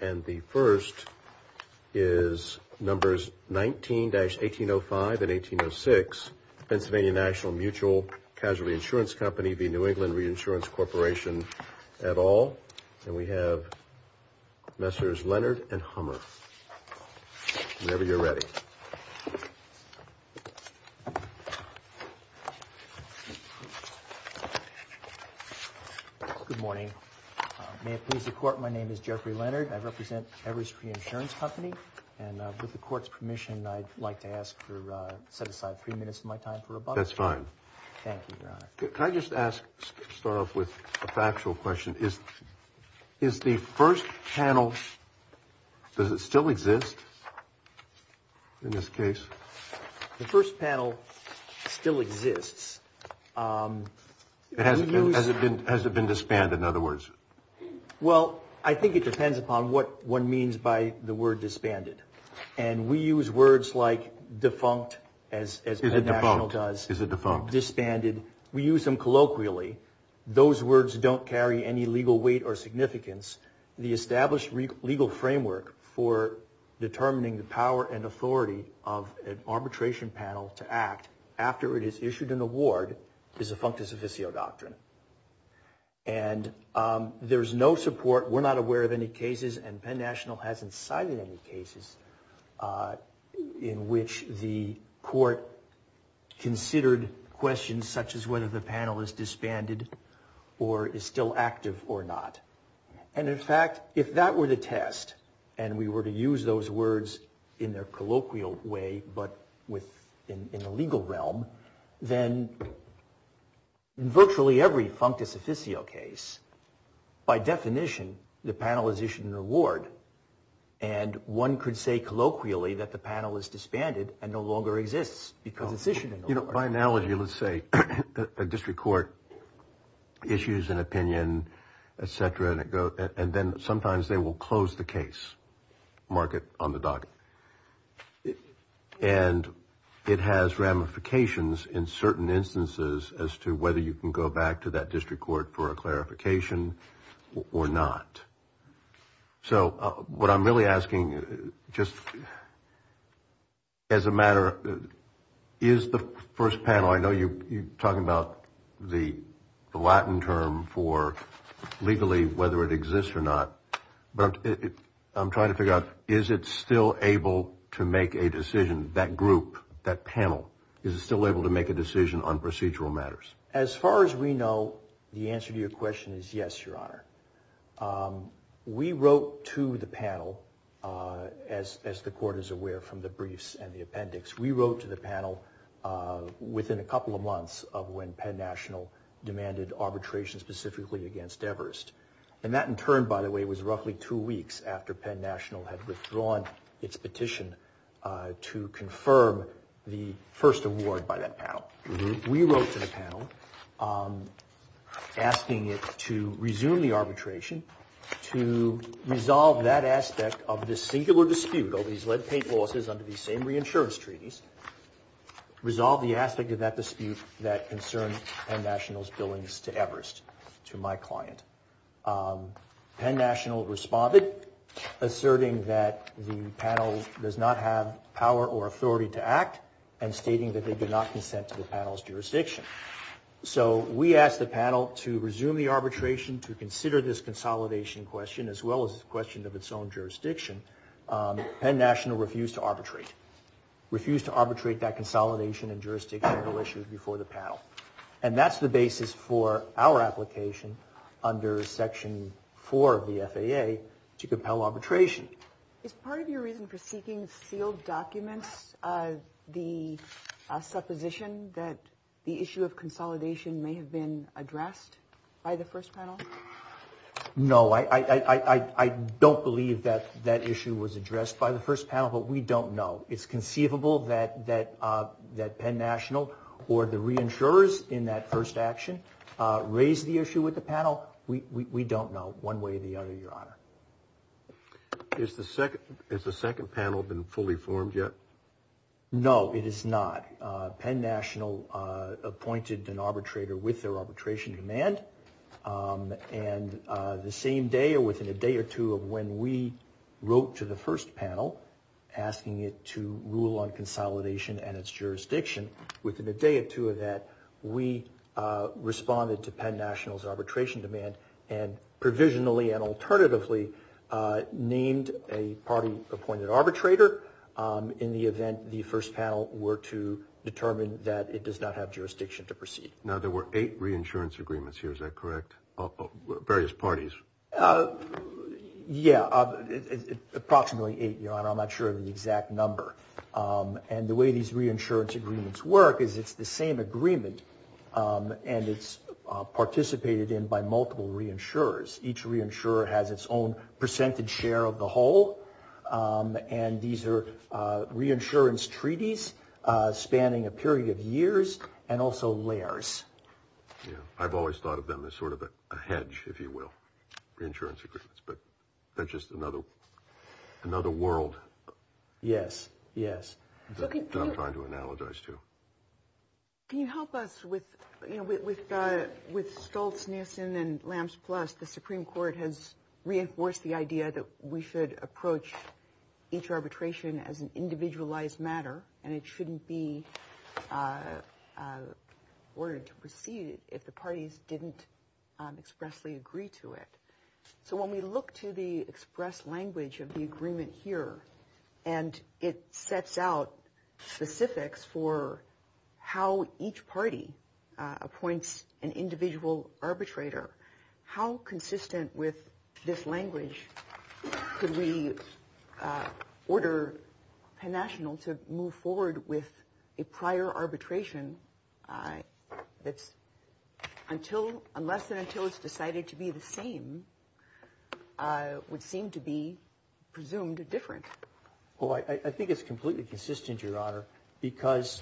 And the first is numbers 19-1805 and 1806, Pennsylvania National Mutual Casualty Insurance Company v. New England Reinsurance Corporation et al. And we have Messrs. Leonard and Hummer. Whenever you're ready. Good morning. May it please the Court, my name is Jeffrey Leonard. I represent Everest Reinsurance Company. And with the Court's permission, I'd like to ask for, set aside three minutes of my time for rebuttal. That's fine. Thank you, Your Honor. Can I just ask, start off with a factual question? Is the first panel, does it still exist in this case? The first panel still exists. Has it been disbanded, in other words? Well, I think it depends upon what one means by the word disbanded. And we use words like defunct, as National does. Is it defunct? Defunct, disbanded. We use them colloquially. Those words don't carry any legal weight or significance. The established legal framework for determining the power and authority of an arbitration panel to act after it has issued an award is a functus officio doctrine. And there's no support, we're not aware of any cases, and Penn National hasn't cited any cases in which the Court considered questions such as whether the panel is disbanded or is still active or not. And in fact, if that were the test, and we were to use those words in their colloquial way, but in the legal realm, then virtually every functus officio case, by definition, the panel has issued an award. And one could say colloquially that the panel is disbanded and no longer exists because it's issued an award. You know, by analogy, let's say a district court issues an opinion, et cetera, and then sometimes they will close the case, mark it on the docket. And it has ramifications in certain instances as to whether you can go back to that district court for a clarification or not. So what I'm really asking, just as a matter, is the first panel, I know you're talking about the Latin term for legally whether it exists or not, but I'm trying to figure out, is it still able to make a decision, that group, that panel, is it still able to make a decision on procedural matters? As far as we know, the answer to your question is yes, Your Honor. We wrote to the panel, as the court is aware from the briefs and the appendix, we wrote to the panel within a couple of months of when Penn National demanded arbitration specifically against Everest. And that in turn, by the way, was roughly two weeks after Penn National had withdrawn its petition to confirm the first award by that panel. We wrote to the panel asking it to resume the arbitration, to resolve that aspect of the singular dispute of these lead paint losses under these same reinsurance treaties, resolve the aspect of that dispute that concerns Penn National's billings to Everest, to my client. Penn National responded, asserting that the panel does not have power or authority to act, and stating that they did not consent to the panel's jurisdiction. So we asked the panel to resume the arbitration, to consider this consolidation question, as well as the question of its own jurisdiction. Penn National refused to arbitrate, refused to arbitrate that consolidation and jurisdictional issue before the panel. And that's the basis for our application under Section 4 of the FAA to compel arbitration. Is part of your reason for seeking sealed documents the supposition that the issue of consolidation may have been addressed by the first panel? No, I don't believe that that issue was addressed by the first panel, but we don't know. It's conceivable that Penn National or the reinsurers in that first action raised the issue with the panel. We don't know one way or the other, Your Honor. Has the second panel been fully formed yet? No, it is not. Penn National appointed an arbitrator with their arbitration demand. And the same day or within a day or two of when we wrote to the first panel asking it to rule on consolidation and its jurisdiction, within a day or two of that, we responded to Penn National's arbitration demand and provisionally and alternatively named a party-appointed arbitrator in the event the first panel were to determine that it does not have jurisdiction to proceed. Now, there were eight reinsurance agreements here, is that correct, of various parties? Yeah, approximately eight, Your Honor. I'm not sure of the exact number. And the way these reinsurance agreements work is it's the same agreement and it's participated in by multiple reinsurers. Each reinsurer has its own percentage share of the whole. And these are reinsurance treaties spanning a period of years and also layers. Yeah, I've always thought of them as sort of a hedge, if you will, reinsurance agreements. But that's just another world. Yes, yes. I'm trying to analogize, too. Can you help us with Stoltz, Nielsen, and Lambs Plus? The Supreme Court has reinforced the idea that we should approach each arbitration as an individualized matter and it shouldn't be ordered to proceed if the parties didn't expressly agree to it. So when we look to the expressed language of the agreement here, and it sets out specifics for how each party appoints an individual arbitrator, how consistent with this language could we order Penn National to move forward with a prior arbitration unless and until it's decided to be the same would seem to be presumed different? Well, I think it's completely consistent, Your Honor, because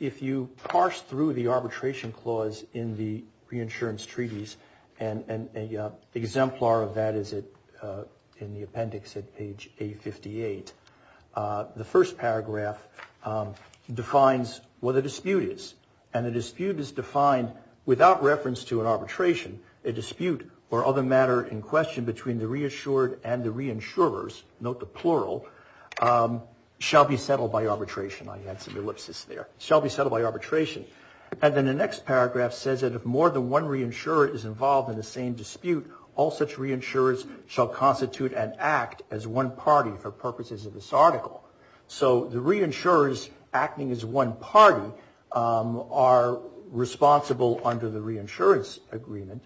if you parse through the arbitration clause in the reinsurance treaties, and an exemplar of that is in the appendix at page 858, the first paragraph defines what a dispute is. And a dispute is defined without reference to an arbitration. A dispute or other matter in question between the reassured and the reinsurers, note the plural, shall be settled by arbitration. I had some ellipsis there. Shall be settled by arbitration. And then the next paragraph says that if more than one reinsurer is involved in the same dispute, all such reinsurers shall constitute and act as one party for purposes of this article. So the reinsurers acting as one party are responsible under the reinsurance agreement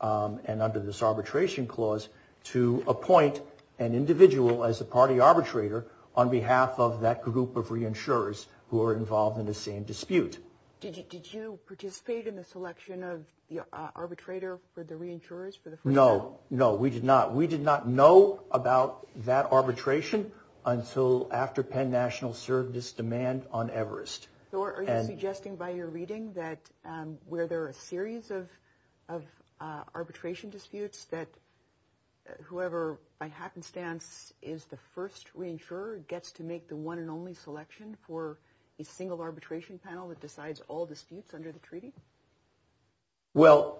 and under this arbitration clause to appoint an individual as a party arbitrator on behalf of that group of reinsurers who are involved in the same dispute. Did you participate in the selection of the arbitrator for the reinsurers for the first panel? No, no, we did not. We did not know about that arbitration until after Penn National served this demand on Everest. So are you suggesting by your reading that where there are a series of arbitration disputes, that whoever by happenstance is the first reinsurer gets to make the one and only selection for a single arbitration panel that decides all disputes under the treaty? Well,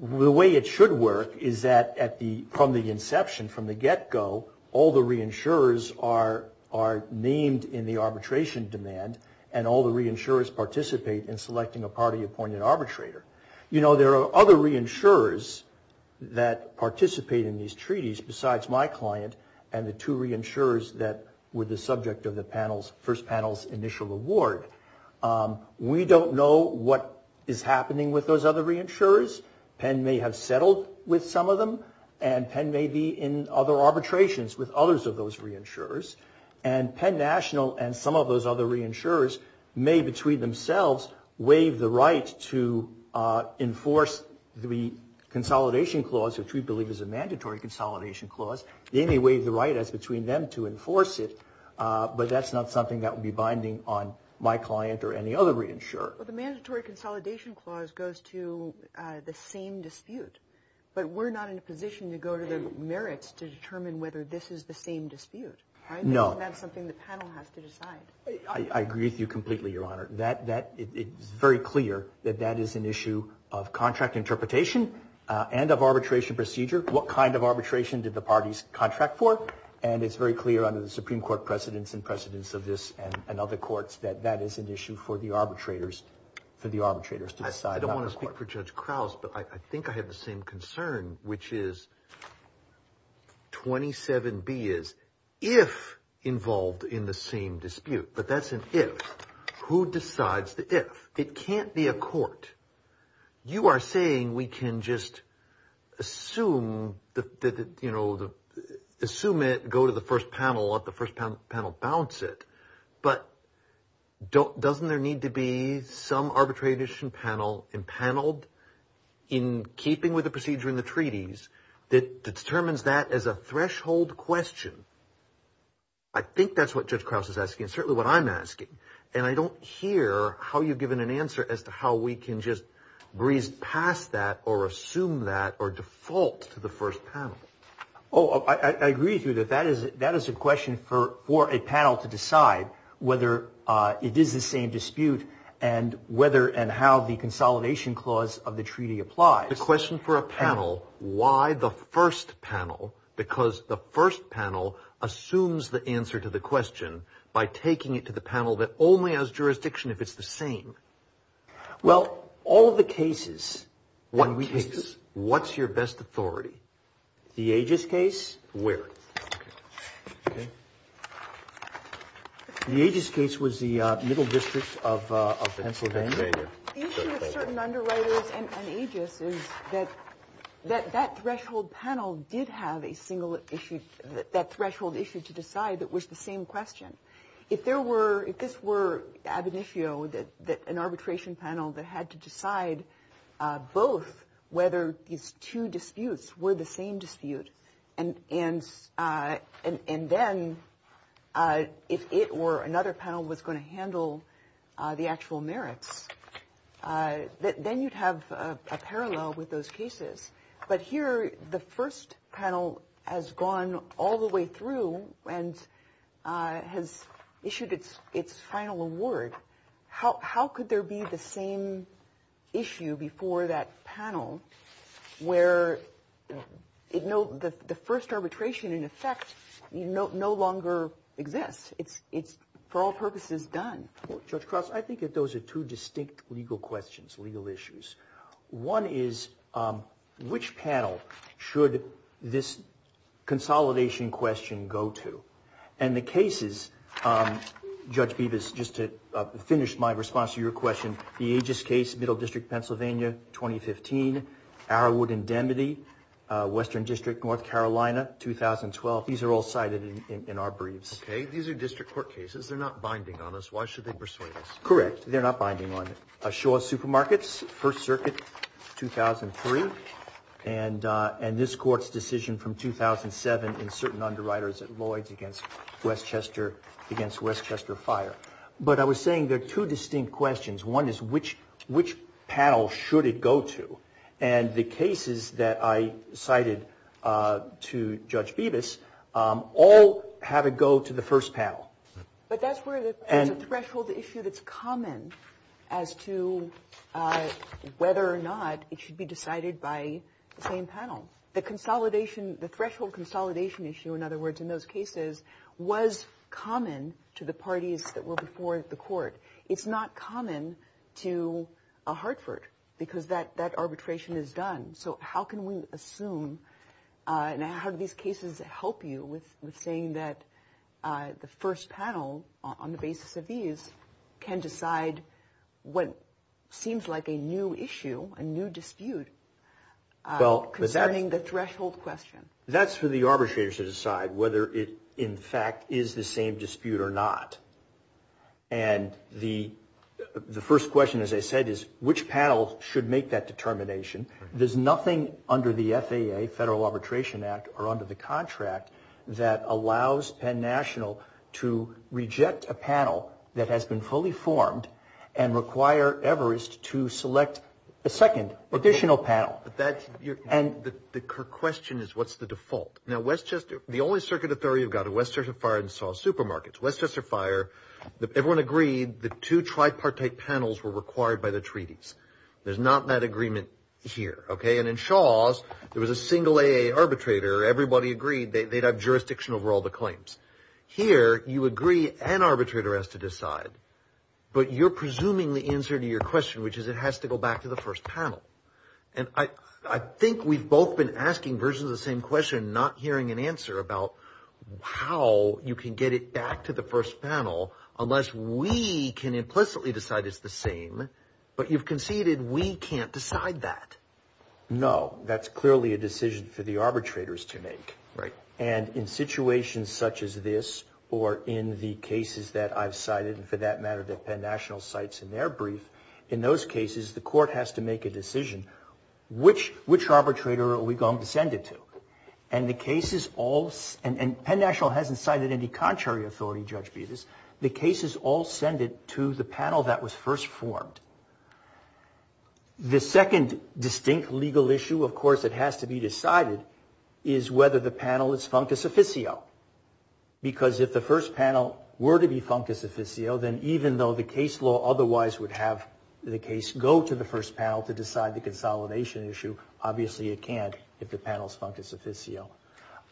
the way it should work is that from the inception, from the get-go, all the reinsurers are named in the arbitration demand and all the reinsurers participate in selecting a party appointed arbitrator. You know, there are other reinsurers that participate in these treaties besides my client and the two reinsurers that were the subject of the first panel's initial award. We don't know what is happening with those other reinsurers. Penn may have settled with some of them, and Penn may be in other arbitrations with others of those reinsurers. And Penn National and some of those other reinsurers may, between themselves, waive the right to enforce the consolidation clause, which we believe is a mandatory consolidation clause. They may waive the right as between them to enforce it, but that's not something that would be binding on my client or any other reinsurer. Well, the mandatory consolidation clause goes to the same dispute, but we're not in a position to go to the merits to determine whether this is the same dispute, right? No. That's not something the panel has to decide. I agree with you completely, Your Honor. It's very clear that that is an issue of contract interpretation and of arbitration procedure. What kind of arbitration did the parties contract for? And it's very clear under the Supreme Court precedents and precedents of this and other courts that that is an issue for the arbitrators to decide. I don't want to speak for Judge Krause, but I think I have the same concern, which is 27B is if involved in the same dispute, but that's an if. It can't be a court. You are saying we can just assume it, go to the first panel, let the first panel bounce it, but doesn't there need to be some arbitration panel impaneled in keeping with the procedure in the treaties that determines that as a threshold question? I think that's what Judge Krause is asking and certainly what I'm asking, and I don't hear how you've given an answer as to how we can just breeze past that or assume that or default to the first panel. Oh, I agree with you that that is a question for a panel to decide whether it is the same dispute and whether and how the consolidation clause of the treaty applies. The question for a panel, why the first panel? Because the first panel assumes the answer to the question by taking it to the panel that only has jurisdiction if it's the same. Well, all of the cases. What cases? What's your best authority? The Aegis case. Where? The Aegis case was the Middle District of Pennsylvania. The issue of certain underwriters and Aegis is that that threshold panel did have a single issue, that threshold issue to decide that was the same question. If there were, if this were ab initio, that an arbitration panel that had to decide both whether these two disputes were the same dispute, and then if it or another panel was going to handle the actual merits, then you'd have a parallel with those cases. But here the first panel has gone all the way through and has issued its final award. How could there be the same issue before that panel where the first arbitration, in effect, no longer exists? It's for all purposes done. Judge Cross, I think that those are two distinct legal questions, legal issues. One is which panel should this consolidation question go to? And the cases, Judge Bevis, just to finish my response to your question, the Aegis case, Middle District, Pennsylvania, 2015, Arrowwood Indemnity, Western District, North Carolina, 2012, these are all cited in our briefs. Okay. These are district court cases. They're not binding on us. Why should they persuade us? Correct. They're not binding on us. Shaw Supermarkets, First Circuit, 2003, and this court's decision from 2007 in certain underwriters at Lloyds against Westchester Fire. But I was saying there are two distinct questions. One is which panel should it go to? And the cases that I cited to Judge Bevis all have it go to the first panel. But that's where the threshold issue that's common as to whether or not it should be decided by the same panel. The consolidation, the threshold consolidation issue, in other words, in those cases was common to the parties that were before the court. It's not common to Hartford because that arbitration is done. So how can we assume and how do these cases help you with saying that the first panel on the basis of these can decide what seems like a new issue, a new dispute concerning the threshold question? That's for the arbitrators to decide whether it, in fact, is the same dispute or not. And the first question, as I said, is which panel should make that determination? There's nothing under the FAA, Federal Arbitration Act, or under the contract that allows Penn National to reject a panel that has been fully formed and require Everest to select a second additional panel. The question is what's the default? Now, the only circuit of theory you've got are Westchester Fire and Saw Supermarkets. Westchester Fire, everyone agreed the two tripartite panels were required by the treaties. There's not that agreement here, okay? And in Shaw's, there was a single AA arbitrator. Everybody agreed they'd have jurisdiction over all the claims. Here, you agree an arbitrator has to decide, but you're presuming the answer to your question, which is it has to go back to the first panel. And I think we've both been asking versions of the same question, not hearing an answer about how you can get it back to the first panel unless we can implicitly decide it's the same, but you've conceded we can't decide that. No, that's clearly a decision for the arbitrators to make. Right. And in situations such as this or in the cases that I've cited, and for that matter that Penn National cites in their brief, in those cases the court has to make a decision, which arbitrator are we going to send it to? And the cases all, and Penn National hasn't cited any contrary authority judge, the cases all send it to the panel that was first formed. The second distinct legal issue, of course, it has to be decided is whether the panel is functus officio, because if the first panel were to be functus officio, then even though the case law otherwise would have the case go to the first panel to decide the consolidation issue, obviously it can't if the panel's functus officio.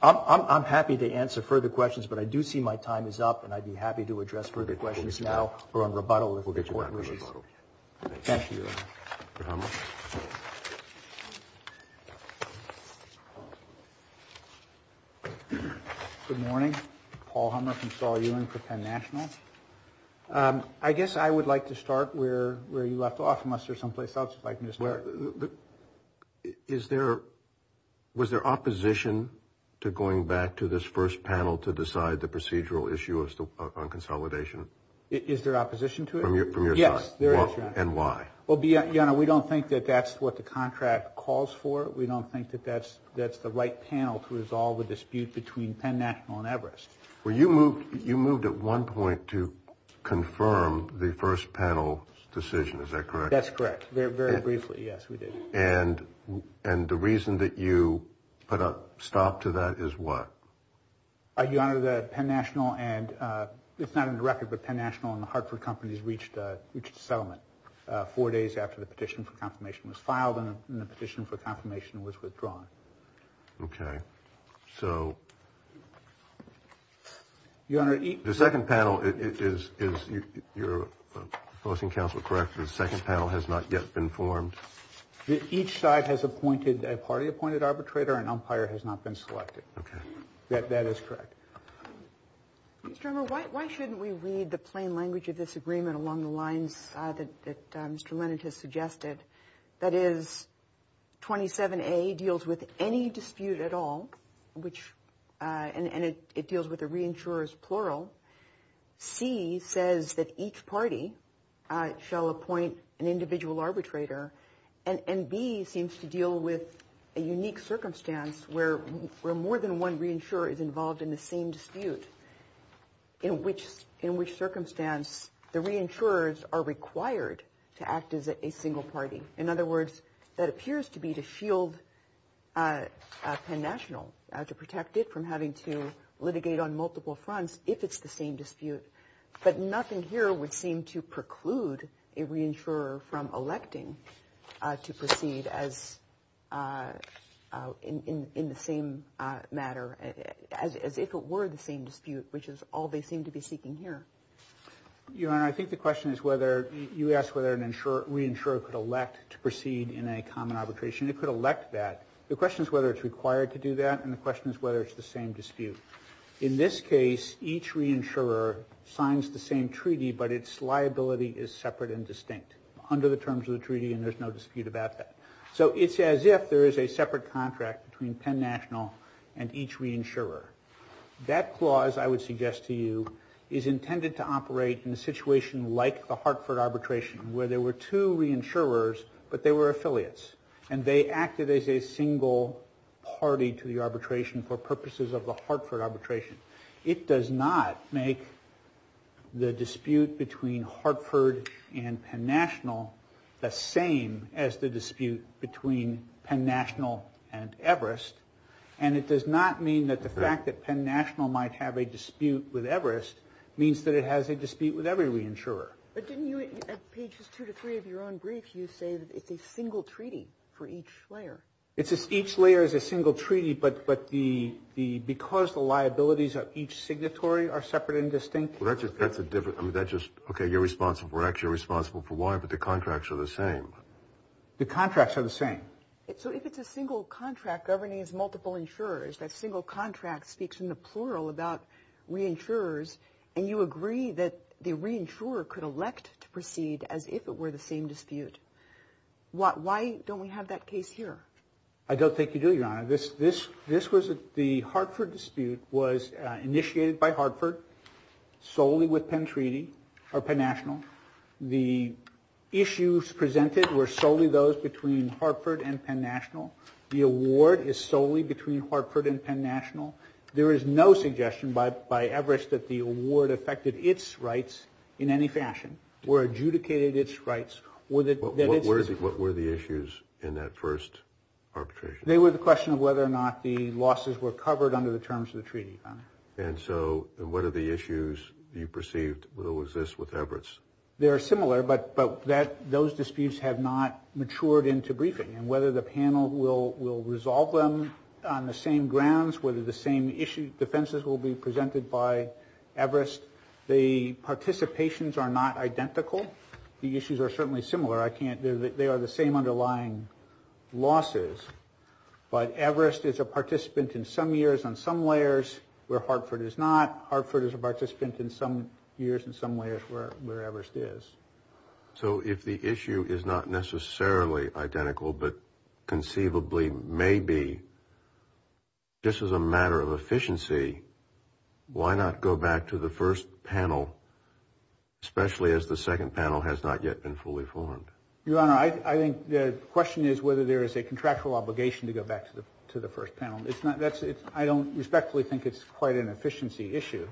I'm happy to answer further questions, but I do see my time is up, and I'd be happy to address further questions now or on rebuttal if the court wishes. Thank you. Good morning. Paul Hummer from Saul Ewing for Penn National. I guess I would like to start where you left off unless there's someplace else you'd like me to start. Is there, was there opposition to going back to this first panel to decide the procedural issue on consolidation? Is there opposition to it? From your side? Yes, there is. And why? Well, we don't think that that's what the contract calls for. We don't think that that's the right panel to resolve the dispute between Penn National and Everest. Well, you moved at one point to confirm the first panel's decision, is that correct? That's correct. Very briefly, yes, we did. And the reason that you put a stop to that is what? Your Honor, the Penn National and, it's not in the record, but Penn National and the Hartford companies reached a settlement four days after the petition for confirmation was filed, and the petition for confirmation was withdrawn. Okay. So. Your Honor. The second panel, is your opposing counsel correct, the second panel has not yet been formed? Each side has appointed, a party appointed arbitrator, and umpire has not been selected. Okay. That is correct. Mr. Emmer, why shouldn't we read the plain language of this agreement along the lines that Mr. Leonard has suggested? That is, 27A deals with any dispute at all, and it deals with the reinsurers, plural. C says that each party shall appoint an individual arbitrator, and B seems to deal with a unique circumstance where more than one reinsurer is involved in the same dispute, in which circumstance the reinsurers are required to act as a single party. In other words, that appears to be to shield Penn National, to protect it from having to litigate on multiple fronts if it's the same dispute. But nothing here would seem to preclude a reinsurer from electing to proceed as, in the same matter, as if it were the same dispute, which is all they seem to be seeking here. Your Honor, I think the question is whether, you asked whether a reinsurer could elect to proceed in a common arbitration. It could elect that. The question is whether it's required to do that, and the question is whether it's the same dispute. In this case, each reinsurer signs the same treaty, but its liability is separate and distinct, under the terms of the treaty, and there's no dispute about that. So it's as if there is a separate contract between Penn National and each reinsurer. That clause, I would suggest to you, is intended to operate in a situation like the Hartford arbitration, where there were two reinsurers, but they were affiliates, and they acted as a single party to the arbitration for purposes of the Hartford arbitration. It does not make the dispute between Hartford and Penn National the same as the dispute between Penn National and Everest, and it does not mean that the fact that Penn National might have a dispute with Everest means that it has a dispute with every reinsurer. But didn't you, at pages two to three of your own brief, you say that it's a single treaty for each layer? It's just each layer is a single treaty, but because the liabilities of each signatory are separate and distinct. Well, that's a different, I mean, that's just, okay, you're responsible for X, you're responsible for Y, but the contracts are the same. The contracts are the same. So if it's a single contract governing its multiple insurers, that single contract speaks in the plural about reinsurers, and you agree that the reinsurer could elect to proceed as if it were the same dispute. Why don't we have that case here? I don't think you do, Your Honor. The Hartford dispute was initiated by Hartford solely with Penn National. The issues presented were solely those between Hartford and Penn National. The award is solely between Hartford and Penn National. There is no suggestion by Everett's that the award affected its rights in any fashion, or adjudicated its rights. What were the issues in that first arbitration? They were the question of whether or not the losses were covered under the terms of the treaty, Your Honor. And so what are the issues you perceived will exist with Everett's? They are similar, but those disputes have not matured into briefing, and whether the panel will resolve them on the same grounds, whether the same issue defenses will be presented by Everest, the participations are not identical. The issues are certainly similar. They are the same underlying losses. But Everest is a participant in some years on some layers where Hartford is not. Hartford is a participant in some years in some layers where Everest is. So if the issue is not necessarily identical, but conceivably may be, just as a matter of efficiency, why not go back to the first panel, especially as the second panel has not yet been fully formed? Your Honor, I think the question is whether there is a contractual obligation to go back to the first panel. I don't respectfully think it's quite an efficiency issue.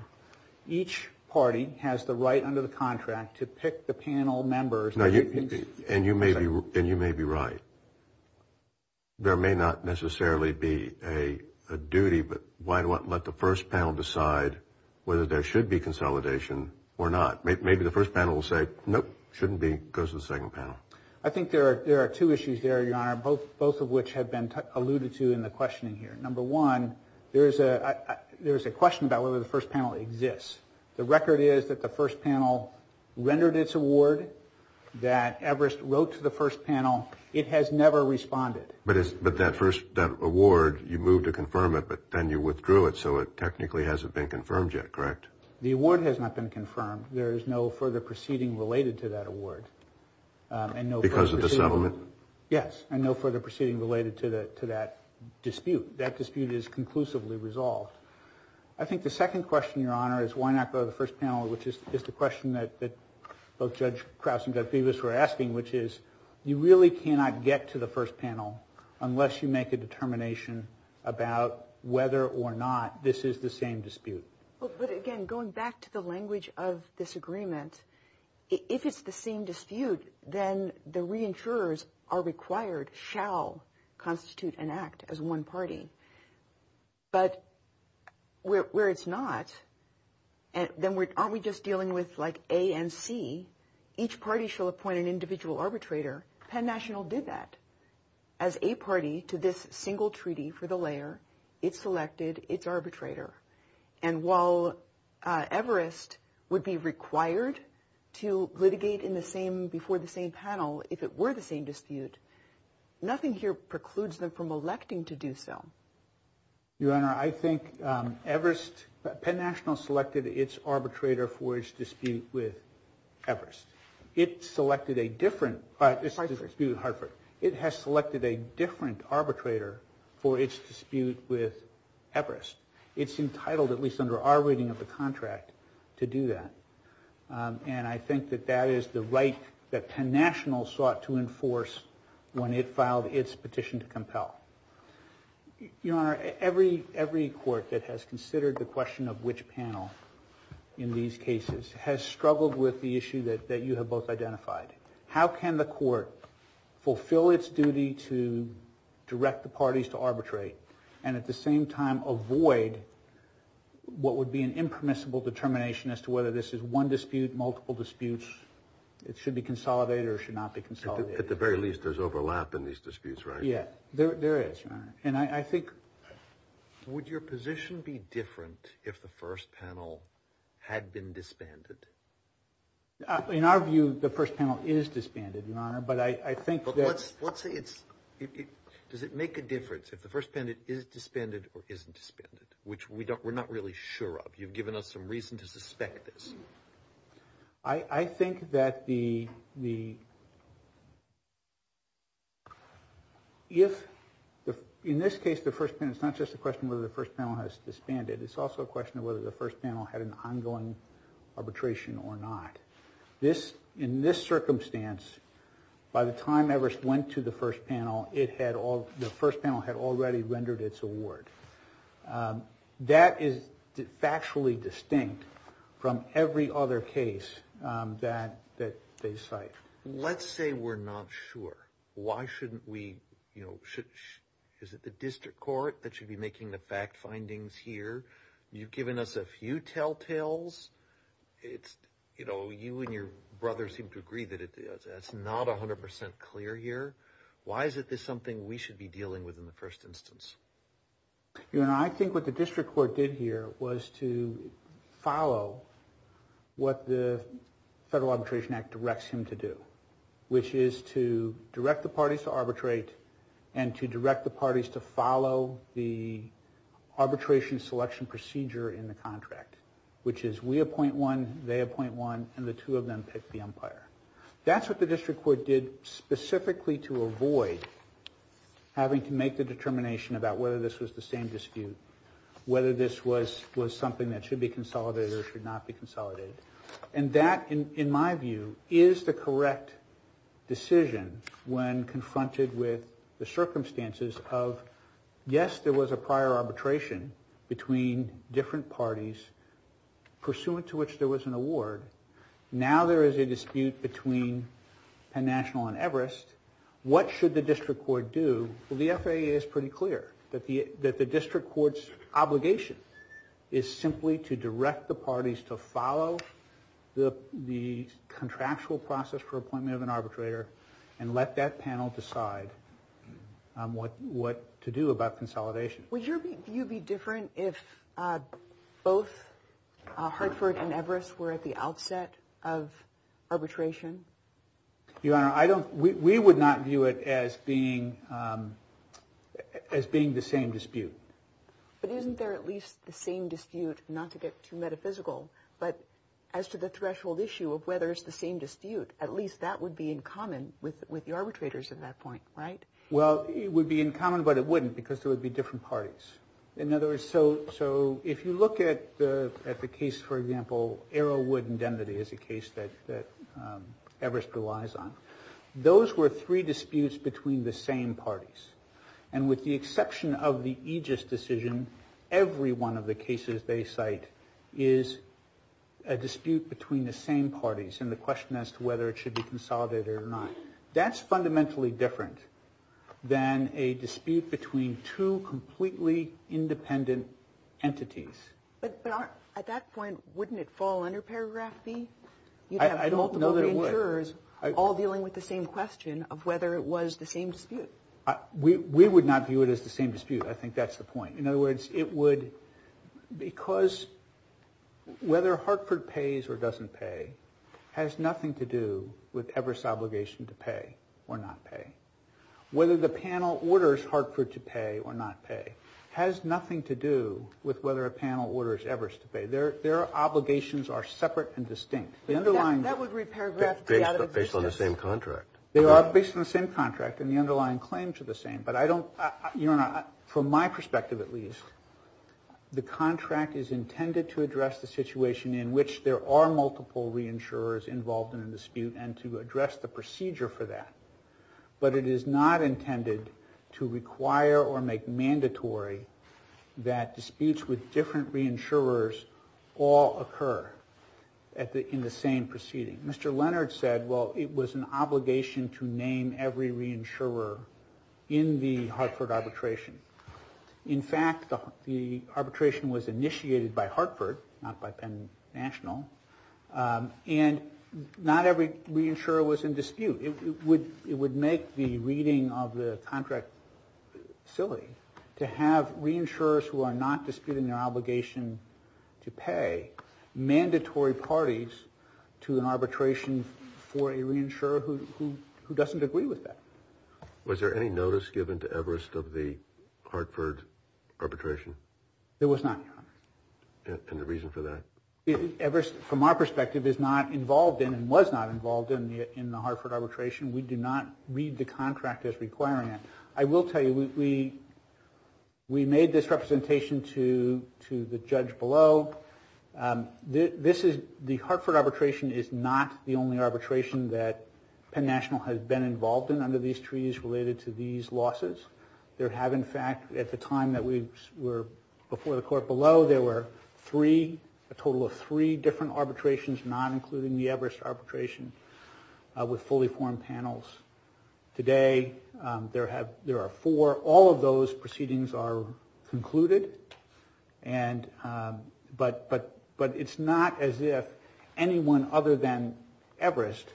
Each party has the right under the contract to pick the panel members. And you may be right. There may not necessarily be a duty, but why not let the first panel decide whether there should be consolidation or not? Maybe the first panel will say, nope, shouldn't go to the second panel. I think there are two issues there, Your Honor, both of which have been alluded to in the questioning here. Number one, there is a question about whether the first panel exists. The record is that the first panel rendered its award, that Everest wrote to the first panel. It has never responded. But that award, you moved to confirm it, but then you withdrew it, so it technically hasn't been confirmed yet, correct? The award has not been confirmed. There is no further proceeding related to that award. Because of the settlement? Yes, and no further proceeding related to that dispute. That dispute is conclusively resolved. I think the second question, Your Honor, is why not go to the first panel, which is the question that both Judge Krause and Judge Bevis were asking, which is you really cannot get to the first panel unless you make a determination about whether or not this is the same dispute. But again, going back to the language of this agreement, if it's the same dispute, then the reinsurers are required, shall constitute an act as one party. But where it's not, then aren't we just dealing with like A and C? Each party shall appoint an individual arbitrator. Penn National did that. As a party to this single treaty for the layer, it selected its arbitrator. And while Everest would be required to litigate in the same, before the same panel, if it were the same dispute, nothing here precludes them from electing to do so. Your Honor, I think Everest, Penn National selected its arbitrator for its dispute with Everest. It selected a different dispute with Hartford. It has selected a different arbitrator for its dispute with Everest. It's entitled, at least under our reading of the contract, to do that. And I think that that is the right that Penn National sought to enforce when it filed its petition to compel. Your Honor, every court that has considered the question of which panel in these cases has struggled with the issue that you have both identified. How can the court fulfill its duty to direct the parties to arbitrate and at the same time avoid what would be an impermissible determination as to whether this is one dispute, multiple disputes. It should be consolidated or it should not be consolidated. At the very least, there's overlap in these disputes, right? Yeah, there is, Your Honor. And I think... Would your position be different if the first panel had been disbanded? In our view, the first panel is disbanded, Your Honor. But I think that... But let's say it's... Does it make a difference if the first panel is disbanded or isn't disbanded? Which we're not really sure of. You've given us some reason to suspect this. I think that the... If... In this case, the first panel... It's not just a question whether the first panel has disbanded. It's also a question of whether the first panel had an ongoing arbitration or not. In this circumstance, by the time Evers went to the first panel, the first panel had already rendered its award. That is factually distinct from every other case that they cite. Let's say we're not sure. Why shouldn't we... Is it the district court that should be making the fact findings here? You've given us a few telltales. It's... You know, you and your brother seem to agree that it's not 100% clear here. Why is this something we should be dealing with in the first instance? Your Honor, I think what the district court did here was to follow what the Federal Arbitration Act directs him to do, which is to direct the parties to arbitrate and to direct the parties to follow the arbitration selection procedure in the contract, which is we appoint one, they appoint one, and the two of them pick the umpire. That's what the district court did specifically to avoid having to make the determination about whether this was the same dispute, whether this was something that should be consolidated or should not be consolidated. And that, in my view, is the correct decision when confronted with the circumstances of, yes, there was a prior arbitration between different parties, pursuant to which there was an award. Now there is a dispute between Penn National and Everest. What should the district court do? Well, the FAA is pretty clear that the district court's obligation is simply to direct the parties to follow the contractual process for appointment of an arbitrator and let that panel decide what to do about consolidation. Would your view be different if both Hartford and Everest were at the outset of arbitration? Your Honor, we would not view it as being the same dispute. But isn't there at least the same dispute, not to get too metaphysical, but as to the threshold issue of whether it's the same dispute, at least that would be in common with the arbitrators at that point, right? Well, it would be in common, but it wouldn't because there would be different parties. In other words, so if you look at the case, for example, Arrowwood Indemnity is a case that Everest relies on. Those were three disputes between the same parties. And with the exception of the Aegis decision, every one of the cases they cite is a dispute between the same parties and the question as to whether it should be consolidated or not. That's fundamentally different than a dispute between two completely independent entities. But at that point, wouldn't it fall under paragraph B? I don't know that it would. All dealing with the same question of whether it was the same dispute. We would not view it as the same dispute. I think that's the point. In other words, it would because whether Hartford pays or doesn't pay has nothing to do with Everest's obligation to pay or not pay. Whether the panel orders Hartford to pay or not pay has nothing to do with whether a panel orders Everest to pay. Their obligations are separate and distinct. That would read paragraph B out of existence. They are based on the same contract and the underlying claims are the same. But from my perspective at least, the contract is intended to address the situation in which there are multiple reinsurers involved in a dispute and to address the procedure for that. But it is not intended to require or make mandatory that disputes with different reinsurers all occur in the same proceeding. Mr. Leonard said, well, it was an obligation to name every reinsurer in the Hartford arbitration. In fact, the arbitration was initiated by Hartford, not by Penn National, and not every reinsurer was in dispute. It would make the reading of the contract silly to pay mandatory parties to an arbitration for a reinsurer who doesn't agree with that. Was there any notice given to Everest of the Hartford arbitration? There was not. And the reason for that? Everest, from our perspective, is not involved in and was not involved in the Hartford arbitration. We do not read the contract as requiring it. I will tell you, we made this representation to the judge below. The Hartford arbitration is not the only arbitration that Penn National has been involved in under these treaties related to these losses. There have, in fact, at the time that we were before the court below, there were three, a total of three different arbitrations, not including the Everest arbitration, with fully formed panels. Today, there are four. All of those proceedings are concluded, but it's not as if anyone other than Everest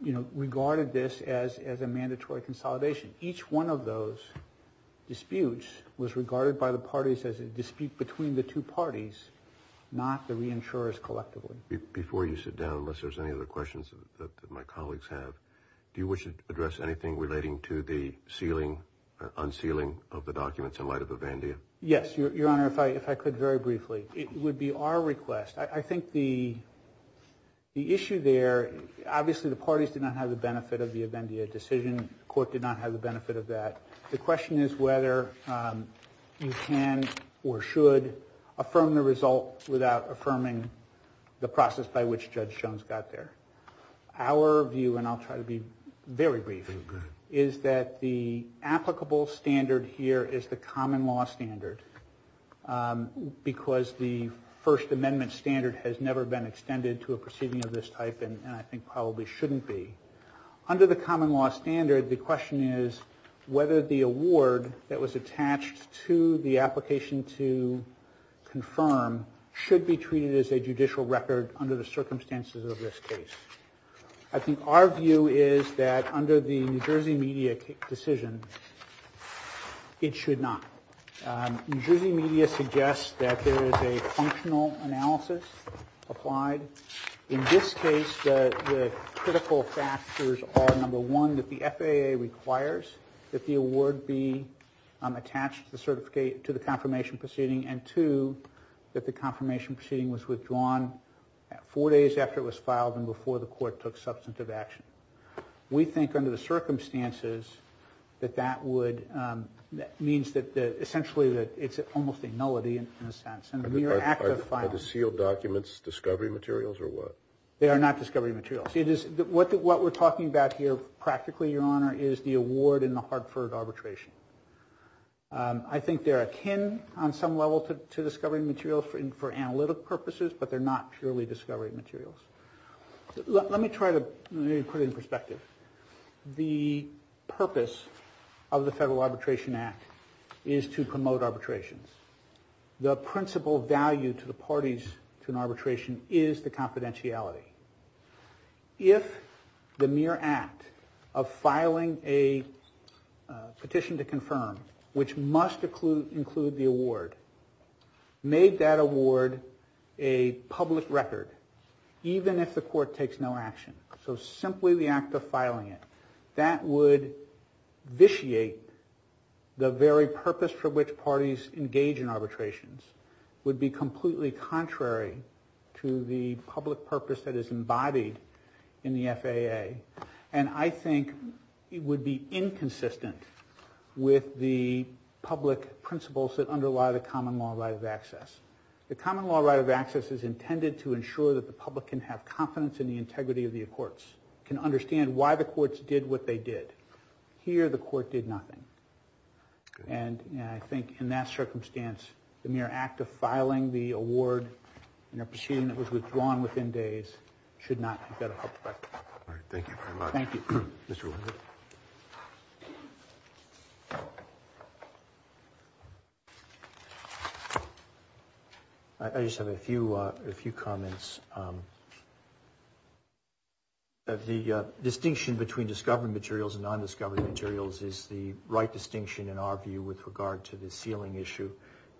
regarded this as a mandatory consolidation. Each one of those disputes was regarded by the parties as a dispute between the two parties, not the reinsurers collectively. Before you sit down, unless there's any other questions that my colleagues have, do you wish to address anything relating to the sealing or unsealing of the documents in light of Avendia? Yes, Your Honor, if I could very briefly. It would be our request. I think the issue there, obviously the parties did not have the benefit of the Avendia decision. The court did not have the benefit of that. The question is whether you can or should affirm the result without affirming the process by which Judge Jones got there. Our view, and I'll try to be very brief, is that the applicable standard here is the common law standard because the First Amendment standard has never been extended to a proceeding of this type and I think probably shouldn't be. Under the common law standard, the question is whether the award that was attached to the application to confirm should be treated as a judicial record under the circumstances of this case. I think our view is that under the New Jersey media decision, it should not. New Jersey media suggests that there is a functional analysis applied. In this case, the critical factors are, number one, that the FAA requires that the award be attached to the confirmation proceeding and, two, that the confirmation proceeding was withdrawn four days after it was filed and before the court took substantive action. We think under the circumstances that that would, that means that essentially it's almost a nullity in a sense. Are the sealed documents discovery materials or what? They are not discovery materials. What we're talking about here practically, Your Honor, is the award in the Hartford arbitration. I think they're akin on some level to discovery materials for analytic purposes, but they're not purely discovery materials. Let me try to put it in perspective. The purpose of the Federal Arbitration Act is to promote arbitrations. The principal value to the parties to an arbitration is the confidentiality. If the mere act of filing a petition to confirm, which must include the award, made that award a public record, even if the court takes no action, so simply the act of filing it, that would vitiate the very purpose for which parties engage in arbitrations, would be completely contrary to the public purpose that is embodied in the FAA, and I think it would be inconsistent with the public principles that underlie the common law right of access. The common law right of access is intended to ensure that the public can have confidence in the integrity of the courts, can understand why the courts did what they did. Here, the court did nothing, and I think in that circumstance, the mere act of filing the award in a proceeding that was withdrawn within days should not have got a public record. All right, thank you very much. Thank you. Mr. Wood. I just have a few comments. The distinction between discovery materials and non-discovery materials is the right distinction, in our view, with regard to the sealing issue,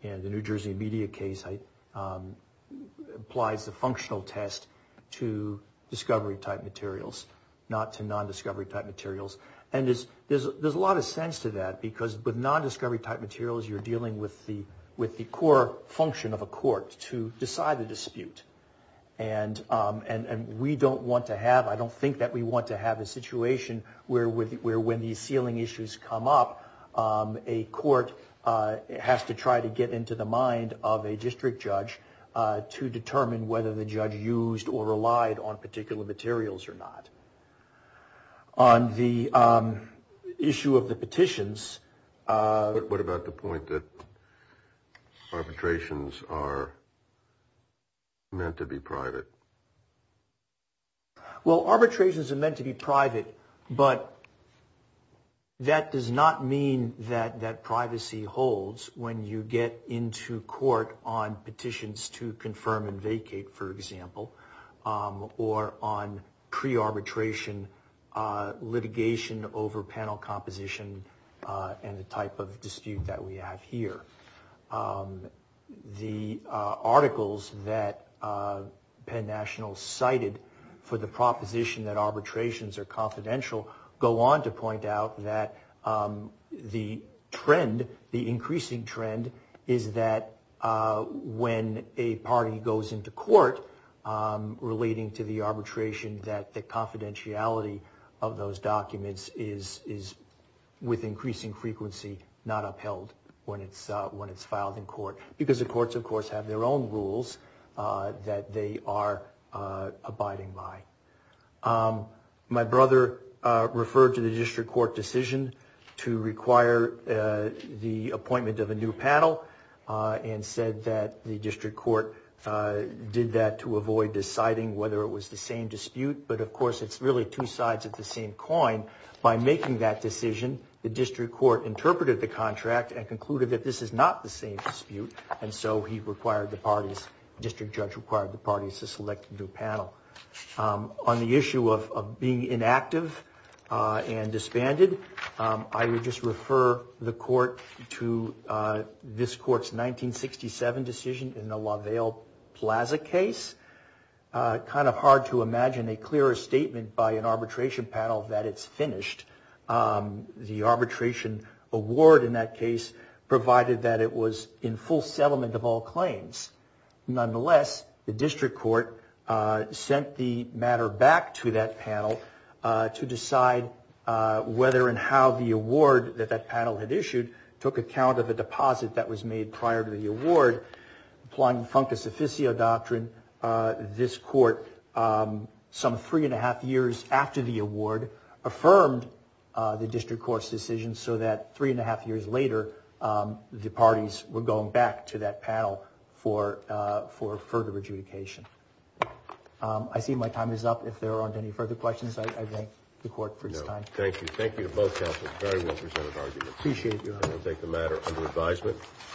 and the New Jersey media case applies the functional test to discovery type materials, not to non-discovery type materials, and there's a lot of sense to that because with non-discovery type materials, you're dealing with the core function of a court to decide the dispute, and we don't want to have, I don't think that we want to have a situation where when these sealing issues come up, a court has to try to get into the mind of a district judge to determine whether the judge used or relied on particular materials or not. On the issue of the petitions. What about the point that arbitrations are meant to be private? Well, arbitrations are meant to be private, but that does not mean that that privacy holds when you get into court on petitions to confirm and vacate, for example, or on pre-arbitration litigation over panel composition and the type of dispute that we have here. The articles that Penn National cited for the proposition that arbitrations are confidential go on to point out that the trend, the increasing trend is that when a party goes into court relating to the arbitration, that the confidentiality of those documents is, with increasing frequency, not upheld when it's filed in court, because the courts, of course, have their own rules that they are abiding by. My brother referred to the district court decision to require the appointment of a new panel and said that the district court did that to avoid deciding whether it was the same dispute. But, of course, it's really two sides of the same coin. By making that decision, the district court interpreted the contract and concluded that this is not the same dispute, and so he required the parties, district judge required the parties to select a new panel. On the issue of being inactive and disbanded, I would just refer the court to this court's 1967 decision in the LaValle Plaza case. Kind of hard to imagine a clearer statement by an arbitration panel that it's finished. The arbitration award in that case provided that it was in full settlement of all claims. Nonetheless, the district court sent the matter back to that panel to decide whether and how the award that that panel had issued took account of a deposit that was made prior to the award. Applying Funcus Officio doctrine, this court, some three and a half years after the award, affirmed the district court's decision so that three and a half years later, the parties were going back to that panel for further adjudication. I see my time is up. If there aren't any further questions, I thank the court for his time. Thank you. Thank you to both counsels. Very well presented argument. Appreciate it, Your Honor. I'm going to take the matter under advisement.